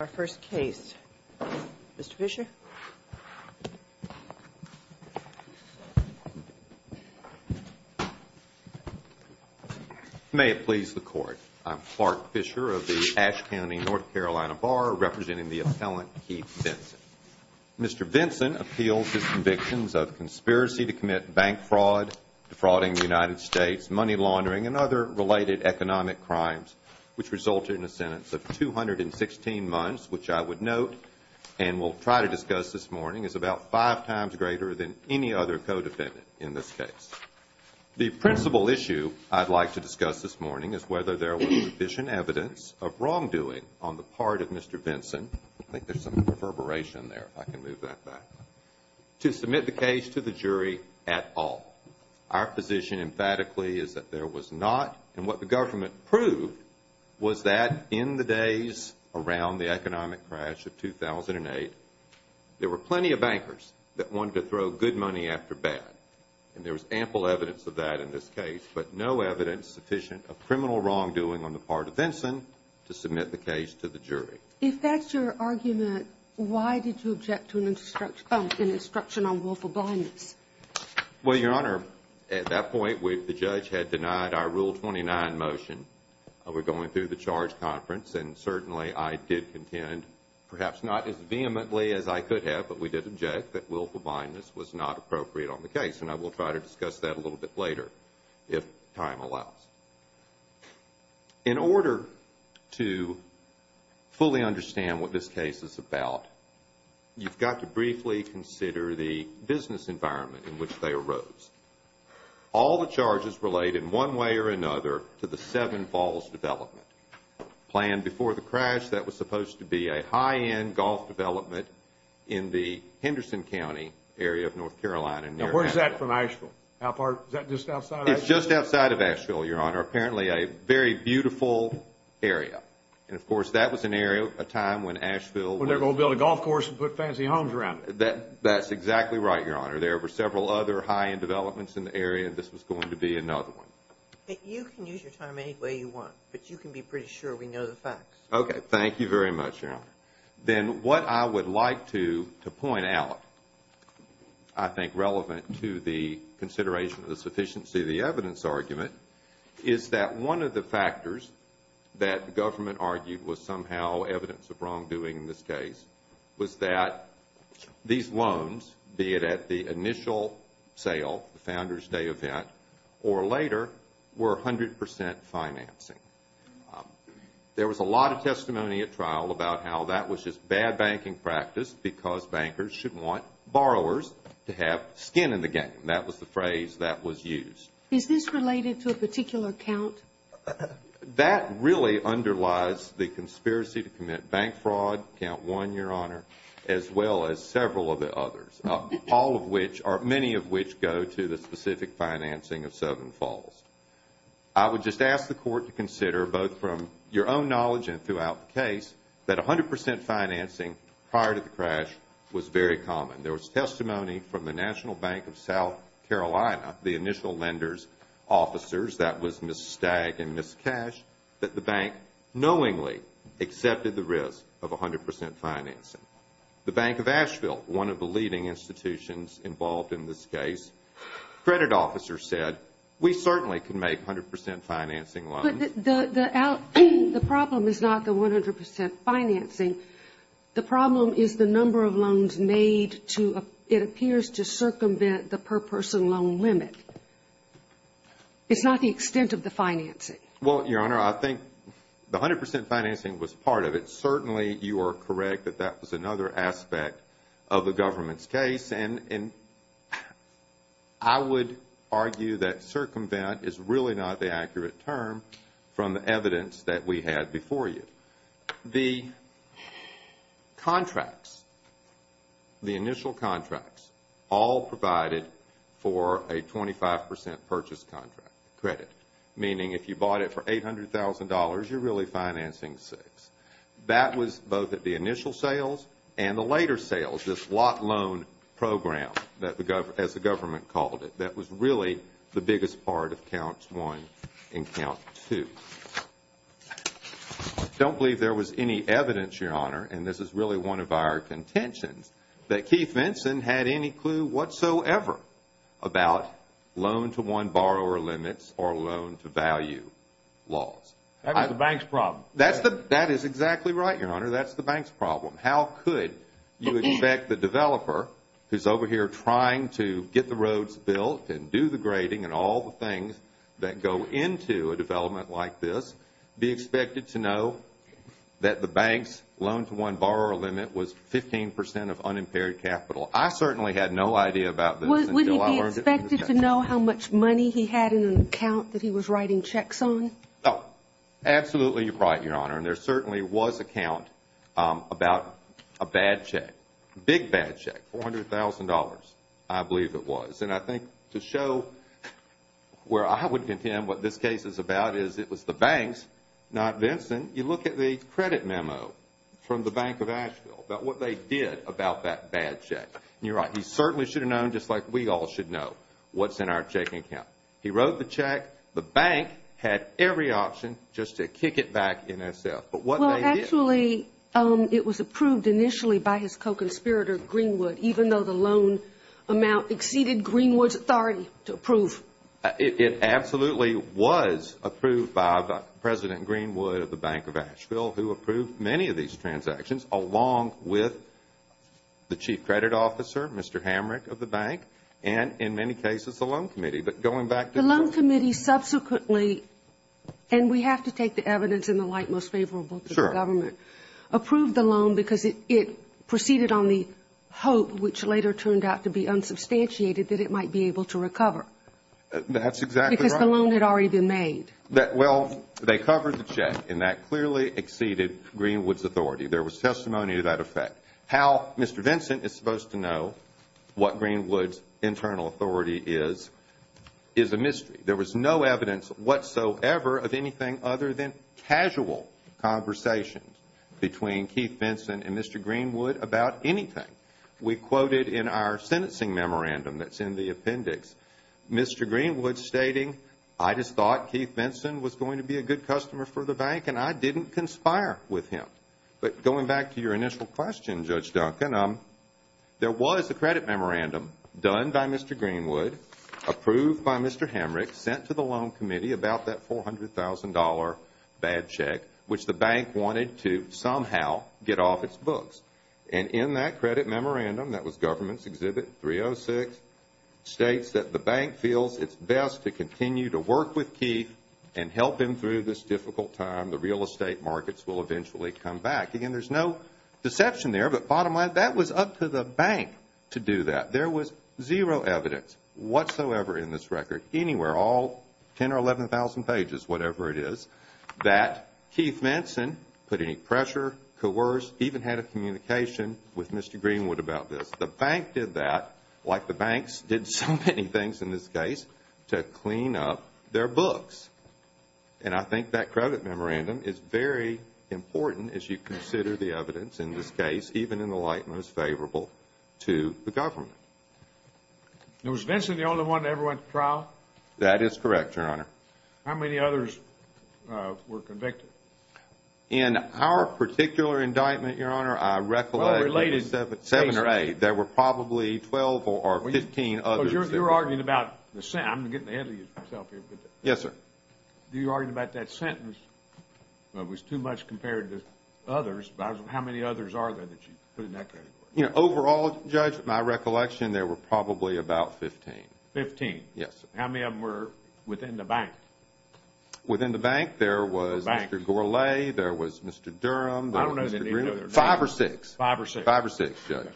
Our first case, Mr. Fischer. May it please the court. I'm Clark Fischer of the Ashe County, North Carolina Bar, representing the appellant Keith Vinson. Mr. Vinson appeals his convictions of conspiracy to commit bank fraud, defrauding the United States, money laundering, and other related economic crimes, which resulted in a sentence of 216 months, which I would note, and will try to discuss this morning, is about five times greater than any other co-defendant in this case. The principal issue I'd like to discuss this morning is whether there was sufficient evidence of wrongdoing on the part of Mr. Vinson, I think there's some perverberation there, if I can move that back, to submit the case to the jury at all. Our position emphatically is that there was not, and what the government proved was that in the days around the economic crash of 2008, there were plenty of bankers that wanted to throw good money after bad, and there was ample evidence of that in this case, but no evidence sufficient of criminal wrongdoing on the part of Vinson to submit the case to the jury. If that's your argument, why did you object to an instruction on willful blindness? Well, Your Honor, at that point, the judge had denied our Rule 29 motion. We're going through the charge conference, and certainly I did contend, perhaps not as vehemently as I could have, but we did object that willful blindness was not appropriate on the case, and I will try to discuss that a little bit later, if time allows. In order to fully understand what this case is about, you've got to briefly consider the business environment in which they arose. All the charges relate in one way or another to the Seven Falls development. Planned before the crash, that was supposed to be a high-end golf development in the Henderson County area of North Carolina, near Asheville. Now, where's that from, Asheville? Is that just outside of Asheville? Asheville, Your Honor, apparently a very beautiful area. And, of course, that was an area, a time when Asheville was- When they were going to build a golf course and put fancy homes around it. That's exactly right, Your Honor. There were several other high-end developments in the area, and this was going to be another one. You can use your time any way you want, but you can be pretty sure we know the facts. Okay. Thank you very much, Your Honor. Then what I would like to point out, I think relevant to the consideration of the sufficiency of the evidence argument, is that one of the factors that the government argued was somehow evidence of wrongdoing in this case was that these loans, be it at the initial sale, the Founder's Day event, or later, were 100 percent financing. There was a lot of testimony at trial about how that was just bad banking practice because bankers should want borrowers to have skin in the game. That was the phrase that was used. Is this related to a particular count? That really underlies the conspiracy to commit bank fraud, Count 1, Your Honor, as well as several of the others, all of which, or many of which, go to the specific financing of Southern Falls. I would just ask the Court to consider, both from your own knowledge and throughout the case, that 100 percent financing prior to the crash was very common. There was testimony from the National Bank of South Carolina, the initial lender's officers, that was Ms. Stagg and Ms. Cash, that the bank knowingly accepted the risk of 100 percent financing. The Bank of Asheville, one of the leading institutions involved in this case, credit officer said, we certainly can make 100 percent financing loans. But the problem is not the 100 percent financing. The problem is the number of loans made to, it appears, to circumvent the per-person loan limit. It's not the extent of the financing. Well, Your Honor, I think the 100 percent financing was part of it. Certainly, you are correct that that was another aspect of the government's case. And I would argue that circumvent is really not the accurate term from the evidence that we had before you. The contracts, the initial contracts, all provided for a 25 percent purchase credit, meaning if you bought it for $800,000, you're really financing six. That was both at the initial sales and the later sales, this lot loan program, as the government called it. That was really the biggest part of Counts 1 and Count 2. I don't believe there was any evidence, Your Honor, and this is really one of our contentions, that Keith Vinson had any clue whatsoever about loan-to-one borrower limits or loan-to-value laws. That was the bank's problem. That is exactly right, Your Honor. That's the bank's problem. How could you expect the developer, who's over here trying to get the roads built and do the grading and all the things that go into a development like this, be expected to know that the bank's loan-to-one borrower limit was 15 percent of unimpaired capital? I certainly had no idea about this until I learned it from the checks. Wouldn't he be expected to know how much money he had in an account that he was writing checks on? No. Absolutely right, Your Honor, and there certainly was a count about a bad check, a big bad check, $400,000, I believe it was. And I think to show where I would contend what this case is about is it was the bank's, not Vinson. You look at the credit memo from the Bank of Asheville about what they did about that bad check. You're right. He certainly should have known, just like we all should know, what's in our checking account. He wrote the check. The bank had every option just to kick it back in itself. But what they did – Well, actually, it was approved initially by his co-conspirator, Greenwood, even though the loan amount exceeded Greenwood's authority to approve. It absolutely was approved by President Greenwood of the Bank of Asheville, who approved many of these transactions along with the chief credit officer, Mr. Hamrick of the bank, and in many cases the loan committee. But going back to – The loan committee subsequently, and we have to take the evidence in the light most favorable to the government, approved the loan because it proceeded on the hope, which later turned out to be unsubstantiated, that it might be able to recover. That's exactly right. Because the loan had already been made. Well, they covered the check, and that clearly exceeded Greenwood's authority. There was testimony to that effect. How Mr. Vinson is supposed to know what Greenwood's internal authority is, is a mystery. There was no evidence whatsoever of anything other than casual conversations between Keith Vinson and Mr. Greenwood about anything. We quoted in our sentencing memorandum that's in the appendix Mr. Greenwood stating, I just thought Keith Vinson was going to be a good customer for the bank, and I didn't conspire with him. But going back to your initial question, Judge Duncan, there was a credit memorandum done by Mr. Greenwood, approved by Mr. Hamrick, sent to the loan committee about that $400,000 bad check, which the bank wanted to somehow get off its books. And in that credit memorandum, that was Government's Exhibit 306, states that the bank feels it's best to continue to work with Keith and help him through this difficult time. The real estate markets will eventually come back. Again, there's no deception there, but bottom line, that was up to the bank to do that. There was zero evidence whatsoever in this record anywhere, all 10,000 or 11,000 pages, whatever it is, that Keith Vinson put any pressure, coerced, even had a communication with Mr. Greenwood about this. The bank did that, like the banks did so many things in this case, to clean up their books. And I think that credit memorandum is very important as you consider the evidence in this case, even in the light most favorable to the government. Was Vinson the only one that ever went to trial? That is correct, Your Honor. How many others were convicted? In our particular indictment, Your Honor, I recollect seven or eight. There were probably 12 or 15 others. You were arguing about the sentence. I'm getting ahead of myself here. Yes, sir. You were arguing about that sentence. It was too much compared to others. How many others are there that you put in that category? Overall, Judge, in my recollection, there were probably about 15. Fifteen? Yes, sir. How many of them were within the bank? Within the bank, there was Mr. Gourlay, there was Mr. Durham, there was Mr. Greenwood. I don't know that any of them were there. Five or six. Five or six. Five or six, Judge.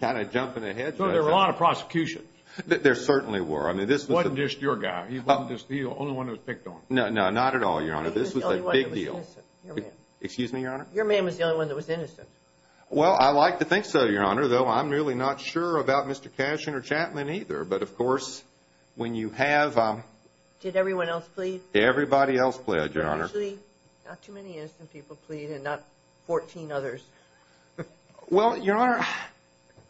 Kind of jumping ahead, Judge. There were a lot of prosecutions. There certainly were. He wasn't just your guy. He wasn't just the only one that was picked on. No, no, not at all, Your Honor. He was the only one that was innocent, your man. Excuse me, Your Honor? Your man was the only one that was innocent. Well, I like to think so, Your Honor, though I'm really not sure about Mr. Cashin or Chapman either. But, of course, when you have— Did everyone else plead? Everybody else pled, Your Honor. Usually, not too many innocent people plead and not 14 others. Well, Your Honor,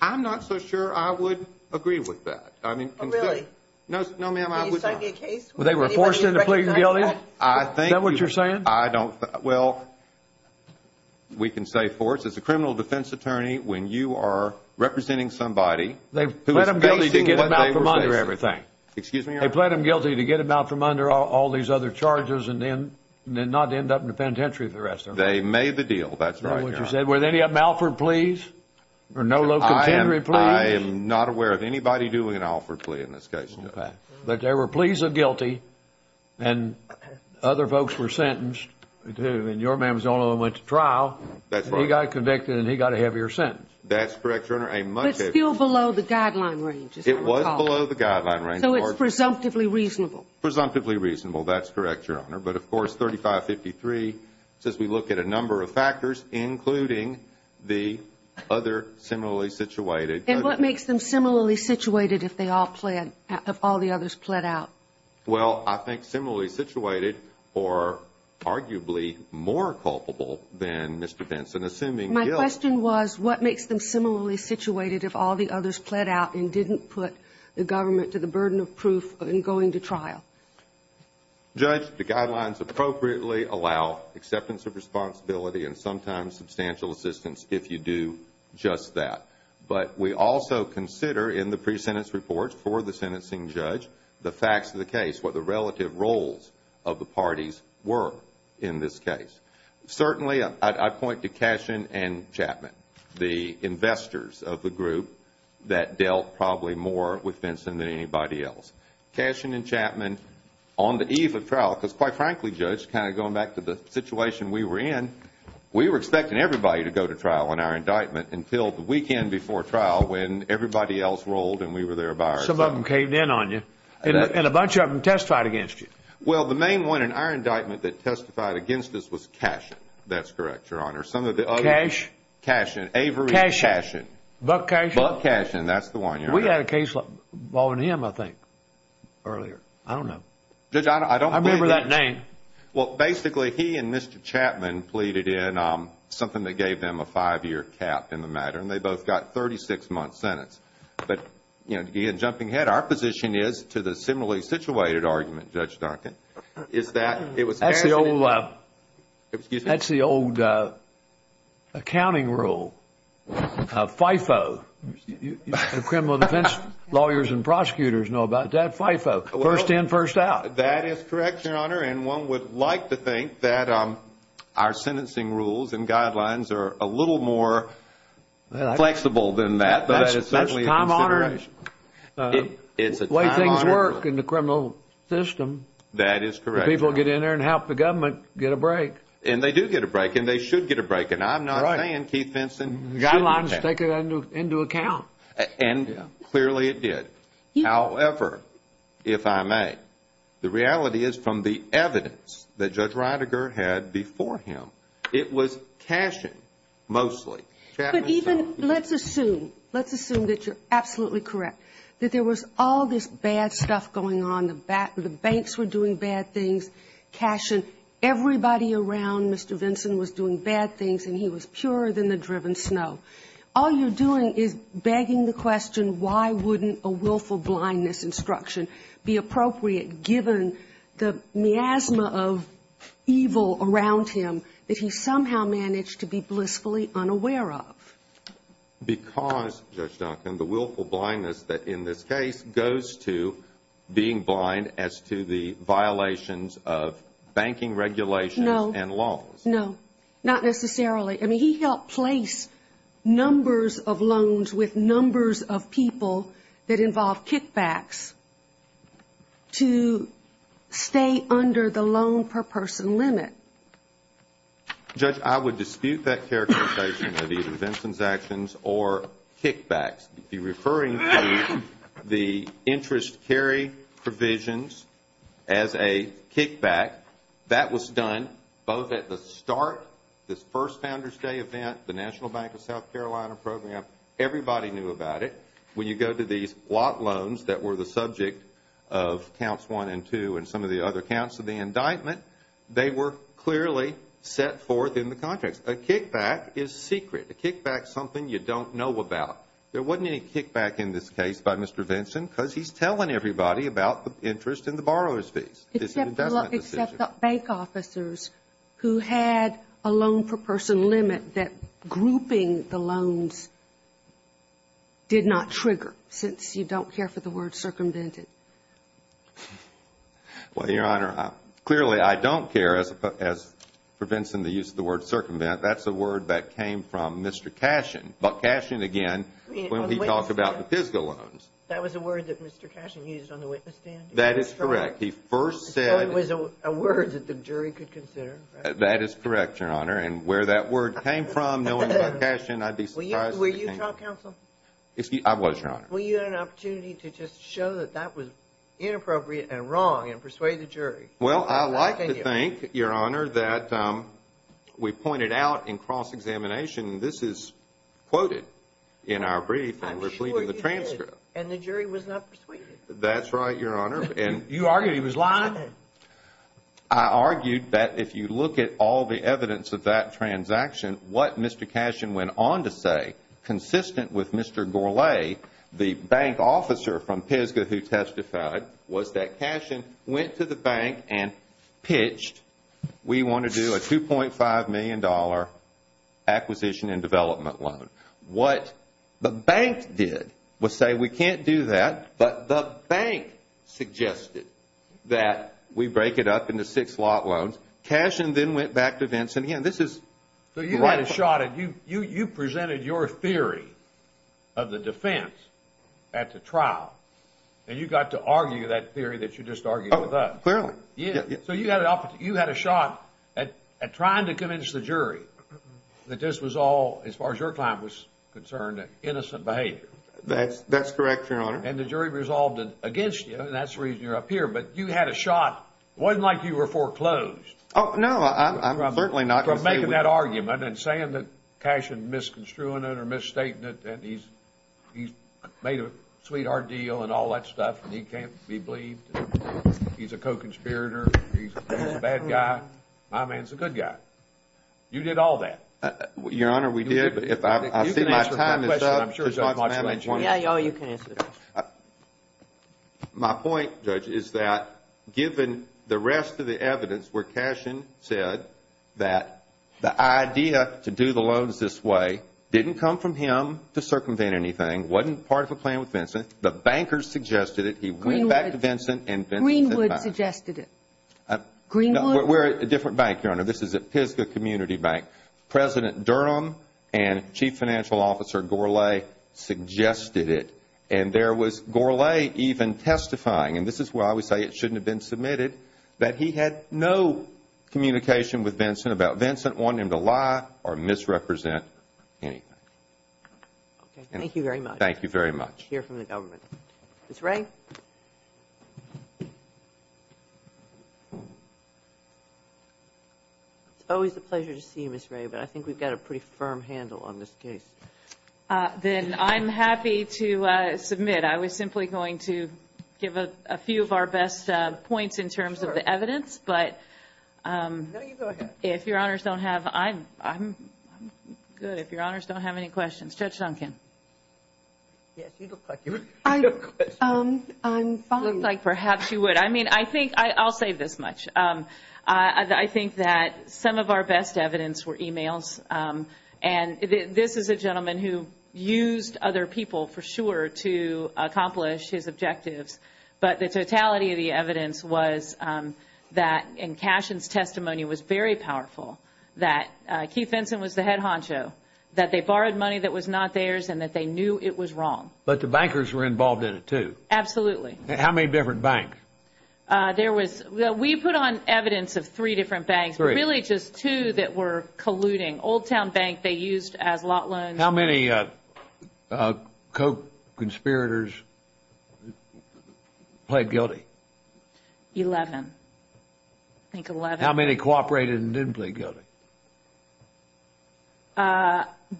I'm not so sure I would agree with that. Oh, really? No, ma'am, I would not. Well, they were forced into pleading guilty? I think— Is that what you're saying? I don't—well, we can say force. As a criminal defense attorney, when you are representing somebody who is facing what they were facing— They pled him guilty to get him out from under everything. Excuse me, Your Honor? They pled him guilty to get him out from under all these other charges and then not end up in the penitentiary for the rest of them. They made the deal. That's right, Your Honor. Was any of them Alford pleas or no low contendery pleas? I am not aware of anybody doing an Alford plea in this case. Okay. But there were pleas of guilty and other folks were sentenced. And your man was the only one who went to trial. That's right. And he got convicted and he got a heavier sentence. That's correct, Your Honor. But it's still below the guideline range, as I recall. It was below the guideline range. So it's presumptively reasonable. Presumptively reasonable. That's correct, Your Honor. But, of course, 3553 says we look at a number of factors, including the other similarly situated. And what makes them similarly situated if they all pled, if all the others pled out? Well, I think similarly situated or arguably more culpable than Mr. Benson, assuming guilt. My question was what makes them similarly situated if all the others pled out and didn't put the government to the burden of proof in going to trial? Judge, the guidelines appropriately allow acceptance of responsibility and sometimes substantial assistance if you do just that. But we also consider in the pre-sentence report for the sentencing judge the facts of the case, what the relative roles of the parties were in this case. Certainly, I point to Cashin and Chapman, the investors of the group, that dealt probably more with Benson than anybody else. Cashin and Chapman, on the eve of trial, because quite frankly, Judge, kind of going back to the situation we were in, we were expecting everybody to go to trial on our indictment until the weekend before trial when everybody else rolled and we were there by ourselves. Some of them caved in on you. And a bunch of them testified against you. Well, the main one in our indictment that testified against us was Cashin. That's correct, Your Honor. Cash? Cashin. Avery Cashin. Buck Cashin? Buck Cashin. That's the one, Your Honor. We had a case involving him, I think, earlier. I don't know. Judge, I don't believe that. I remember that name. Well, basically, he and Mr. Chapman pleaded in on something that gave them a five-year cap in the matter, and they both got 36-month sentence. But, again, jumping ahead, our position is to the similarly situated argument, Judge Duncan, is that it was Cashin. That's the old accounting rule. FIFO. Criminal defense lawyers and prosecutors know about that. FIFO. First in, first out. That is correct, Your Honor, and one would like to think that our sentencing rules and guidelines are a little more flexible than that. But it's certainly a consideration. It's a time-honored way things work in the criminal system. That is correct. The people get in there and help the government get a break. And they do get a break, and they should get a break. And I'm not saying Keith Vinson shouldn't get a break. Guidelines take it into account. And clearly it did. However, if I may, the reality is from the evidence that Judge Rydiger had before him, it was Cashin, mostly. But even, let's assume, let's assume that you're absolutely correct, that there was all this bad stuff going on, the banks were doing bad things, Cashin, everybody around Mr. Vinson was doing bad things, and he was purer than the driven snow. All you're doing is begging the question, why wouldn't a willful blindness instruction be appropriate, given the miasma of evil around him that he somehow managed to be blissfully unaware of? Because, Judge Duncan, the willful blindness that, in this case, goes to being blind as to the violations of banking regulations and laws. No. No. Not necessarily. I mean, he helped place numbers of loans with numbers of people that involved kickbacks to stay under the loan per person limit. Judge, I would dispute that characterization of either Vinson's actions or kickbacks. If you're referring to the interest carry provisions as a kickback, that was done both at the start, this first Founder's Day event, the National Bank of South Carolina program, everybody knew about it. When you go to these lot loans that were the subject of Counts 1 and 2 and some of the other counts of the indictment, they were clearly set forth in the contracts. A kickback is secret. A kickback is something you don't know about. There wasn't any kickback in this case by Mr. Vinson because he's telling everybody about the interest and the borrower's fees. It's an investment decision. Except bank officers who had a loan per person limit that grouping the loans did not trigger, since you don't care for the word circumvented. Well, Your Honor, clearly I don't care as for Vinson the use of the word circumvented. That's a word that came from Mr. Cashin. Buck Cashin, again, when he talked about the Pisgah loans. That was a word that Mr. Cashin used on the witness stand? That is correct. He first said... So it was a word that the jury could consider? That is correct, Your Honor. And where that word came from, knowing Buck Cashin, I'd be surprised... Were you trial counsel? I was, Your Honor. Well, you had an opportunity to just show that that was inappropriate and wrong and persuade the jury. Well, I like to think, Your Honor, that we pointed out in cross-examination, this is quoted in our brief and we're leaving the transcript. I'm sure you did. And the jury was not persuaded? That's right, Your Honor. You argued he was lying? I argued that if you look at all the evidence of that transaction, what Mr. Cashin went on to say, consistent with Mr. Gourlay, the bank officer from Pisgah who testified, was that Cashin went to the bank and pitched, we want to do a $2.5 million acquisition and development loan. What the bank did was say, we can't do that, but the bank suggested that we break it up into six lot loans. Cashin then went back to Vincent. Again, this is... So you had a shot at, you presented your theory of the defense at the trial, and you got to argue that theory that you just argued with us. Clearly. So you had a shot at trying to convince the jury that this was all, as far as your client was concerned, innocent behavior. That's correct, Your Honor. And the jury resolved it against you, and that's the reason you're up here. But you had a shot. It wasn't like you were foreclosed. No, I'm certainly not going to say we... From making that argument and saying that Cashin misconstrued it or misstated it, that he's made a sweetheart deal and all that stuff, and he can't be believed, he's a co-conspirator, he's a bad guy. My man's a good guy. You did all that. Your Honor, we did, but I see my time is up. You can answer my question. I'm sure Judge Mott's going to... Yeah, you can answer it. My point, Judge, is that given the rest of the evidence where Cashin said that the idea to do the loans this way didn't come from him to circumvent anything, wasn't part of a plan with Vincent, the bankers suggested it, he went back to Vincent and Vincent said... Greenwood suggested it. Greenwood... We're at a different bank, Your Honor. This is at Pisgah Community Bank. President Durham and Chief Financial Officer Gourlay suggested it, and there was Gourlay even testifying, and this is why we say it shouldn't have been submitted, that he had no communication with Vincent about Vincent wanting him to lie or misrepresent anything. Thank you very much. Thank you very much. Hear from the government. Ms. Ray? Ms. Ray? It's always a pleasure to see you, Ms. Ray, but I think we've got a pretty firm handle on this case. Then I'm happy to submit. I was simply going to give a few of our best points in terms of the evidence, but... No, you go ahead. If Your Honors don't have... I'm good. If Your Honors don't have any questions. Judge Duncan? Yes, you look like you have questions. I'm fine. You look like perhaps you would. I mean, I think I'll say this much. I think that some of our best evidence were e-mails, and this is a gentleman who used other people for sure to accomplish his objectives, but the totality of the evidence was that in Cashen's testimony was very powerful, that Keith Vinson was the head honcho, that they borrowed money that was not theirs, and that they knew it was wrong. But the bankers were involved in it, too. Absolutely. How many different banks? We put on evidence of three different banks, but really just two that were colluding. Old Town Bank they used as lot loans. How many co-conspirators played guilty? Eleven. I think eleven. How many cooperated and didn't play guilty?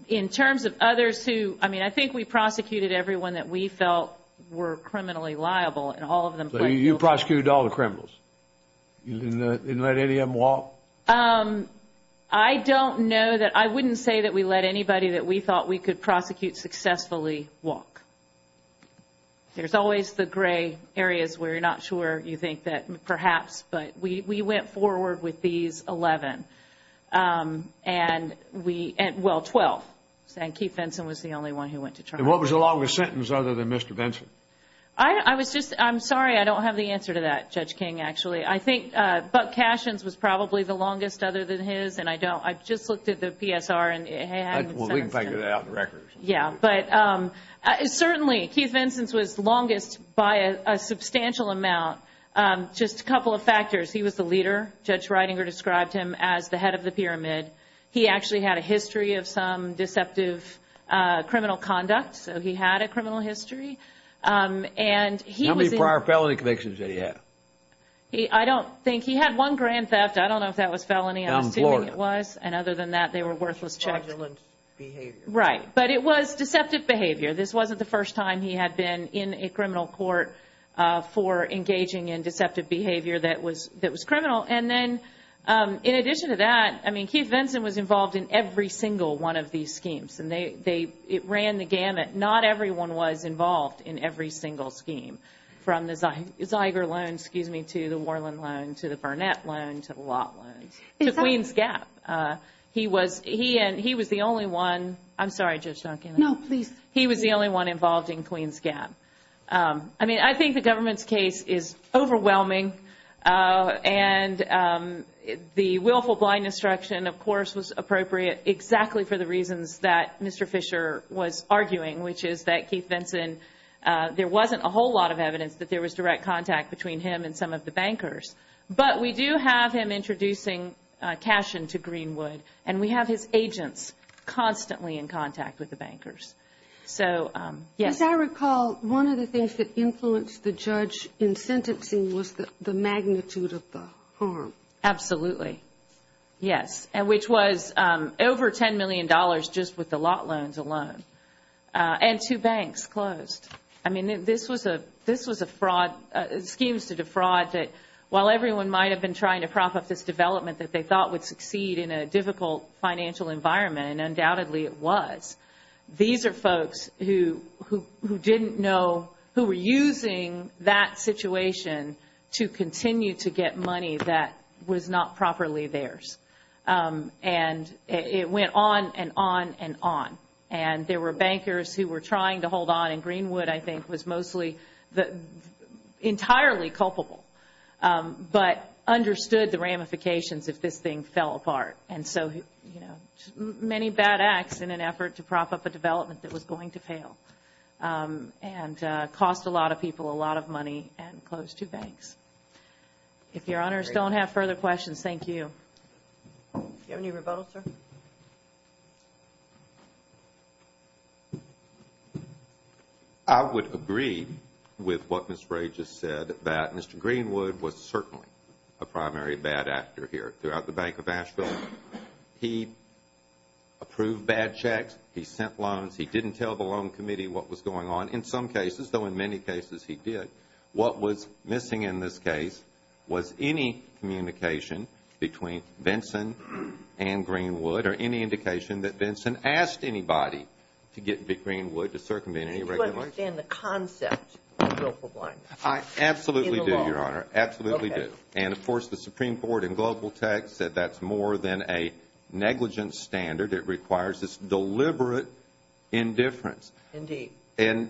In terms of others who, I mean, I think we prosecuted everyone that we felt were criminally liable, and all of them played guilty. So you prosecuted all the criminals? You didn't let any of them walk? I don't know that. I wouldn't say that we let anybody that we thought we could prosecute successfully walk. There's always the gray areas where you're not sure you think that perhaps, but we went forward with these eleven. And we, well, twelve, saying Keith Vinson was the only one who went to trial. And what was the longest sentence other than Mr. Vinson? I was just, I'm sorry, I don't have the answer to that, Judge King, actually. I think Buck Cashins was probably the longest other than his, and I don't, I just looked at the PSR and it hadn't been sentenced. Well, we can figure that out in the records. Yeah, but certainly Keith Vinson's was longest by a substantial amount. Just a couple of factors. He was the leader. Judge Reidinger described him as the head of the pyramid. He actually had a history of some deceptive criminal conduct, so he had a criminal history. How many prior felony convictions did he have? I don't think. He had one grand theft. I don't know if that was felony. I'm assuming it was. And other than that, they were worthless checks. Modulant behavior. Right. But it was deceptive behavior. This wasn't the first time he had been in a criminal court for engaging in deceptive behavior that was criminal. And then in addition to that, I mean, Keith Vinson was involved in every single one of these schemes, and it ran the gamut. Not everyone was involved in every single scheme from the Ziger loan, excuse me, to the Worland loan, to the Burnett loan, to the Lott loan, to Queen's Gap. He was the only one. I'm sorry, Judge Duncan. No, please. He was the only one involved in Queen's Gap. I mean, I think the government's case is overwhelming, and the willful blind instruction, of course, was appropriate exactly for the reasons that Mr. Fisher was arguing, which is that Keith Vinson, there wasn't a whole lot of evidence that there was direct contact between him and some of the bankers, but we do have him introducing cash into Greenwood, and we have his agents constantly in contact with the bankers. So, yes. As I recall, one of the things that influenced the judge in sentencing was the magnitude of the harm. Absolutely, yes, which was over $10 million just with the Lott loans alone, and two banks closed. I mean, this was a fraud, schemes to defraud that while everyone might have been trying to prop up this development that they thought would succeed in a difficult financial environment, and undoubtedly it was, these are folks who didn't know, who were using that situation to continue to get money that was not properly theirs. And it went on and on and on, and there were bankers who were trying to hold on, and Greenwood, I think, was mostly entirely culpable, but understood the ramifications if this thing fell apart. And so, you know, many bad acts in an effort to prop up a development that was going to fail, and cost a lot of people a lot of money and closed two banks. If your honors don't have further questions, thank you. Do you have any rebuttals, sir? I would agree with what Ms. Ray just said, that Mr. Greenwood was certainly a primary bad actor here. Throughout the Bank of Asheville, he approved bad checks, he sent loans, he didn't tell the Loan Committee what was going on, in some cases, though in many cases he did. What was missing in this case was any communication between Vinson and Greenwood, or any indication that Vinson asked anybody to get Big Greenwood to circumvent any regulations. Do you understand the concept of willful blindness? I absolutely do, Your Honor. In the law? Absolutely do. And, of course, the Supreme Court in global text said that's more than a negligent standard. It requires this deliberate indifference. Indeed. And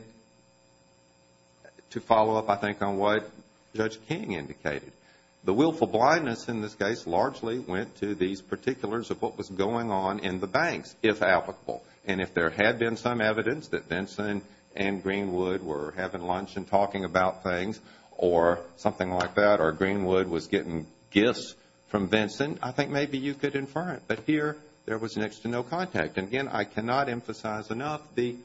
to follow up, I think, on what Judge King indicated, the willful blindness in this case largely went to these particulars of what was going on in the banks, if applicable. And if there had been some evidence that Vinson and Greenwood were having lunch and talking about things, or something like that, or Greenwood was getting gifts from Vinson, I think maybe you could infer it. But here, there was next to no contact. And, again, I cannot emphasize enough the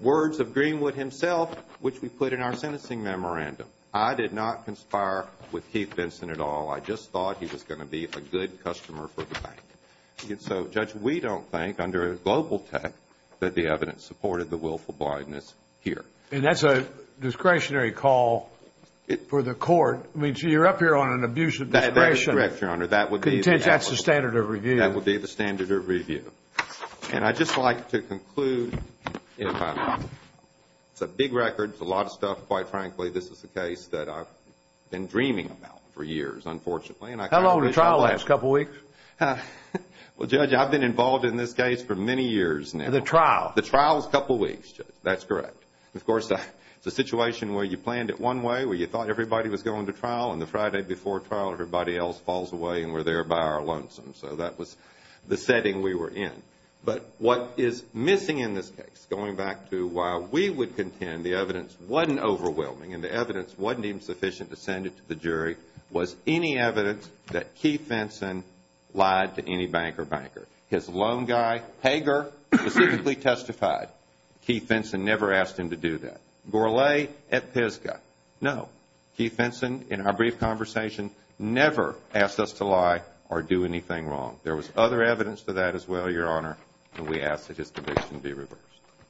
words of Greenwood himself, which we put in our sentencing memorandum. I did not conspire with Keith Vinson at all. I just thought he was going to be a good customer for the bank. So, Judge, we don't think, under global text, that the evidence supported the willful blindness here. And that's a discretionary call for the court. I mean, so you're up here on an abuse of discretion. That's correct, Your Honor. That's the standard of review. And I'd just like to conclude. It's a big record. It's a lot of stuff. Quite frankly, this is a case that I've been dreaming about for years, unfortunately. How long did the trial last? A couple of weeks? Well, Judge, I've been involved in this case for many years now. The trial? The trial was a couple of weeks, Judge. That's correct. Of course, it's a situation where you planned it one way, where you thought everybody was going to trial, and the Friday before trial, everybody else falls away and we're there by our lonesome. So that was the setting we were in. But what is missing in this case, going back to why we would contend the evidence wasn't overwhelming and the evidence wasn't even sufficient to send it to the jury, was any evidence that Keith Vinson lied to any bank or banker. His loan guy, Hager, specifically testified. Keith Vinson never asked him to do that. Gorlay at Pisgah? No. No. Keith Vinson, in our brief conversation, never asked us to lie or do anything wrong. There was other evidence to that as well, Your Honor, and we ask that his conviction be reversed.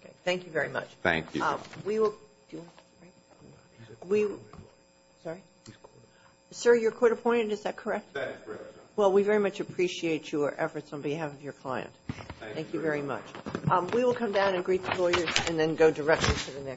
Okay. Thank you very much. Thank you. Sir, you're court-appointed. Is that correct? That is correct, Your Honor. Well, we very much appreciate your efforts on behalf of your client. Thank you very much. We will come down and greet the lawyers and then go directly to the next.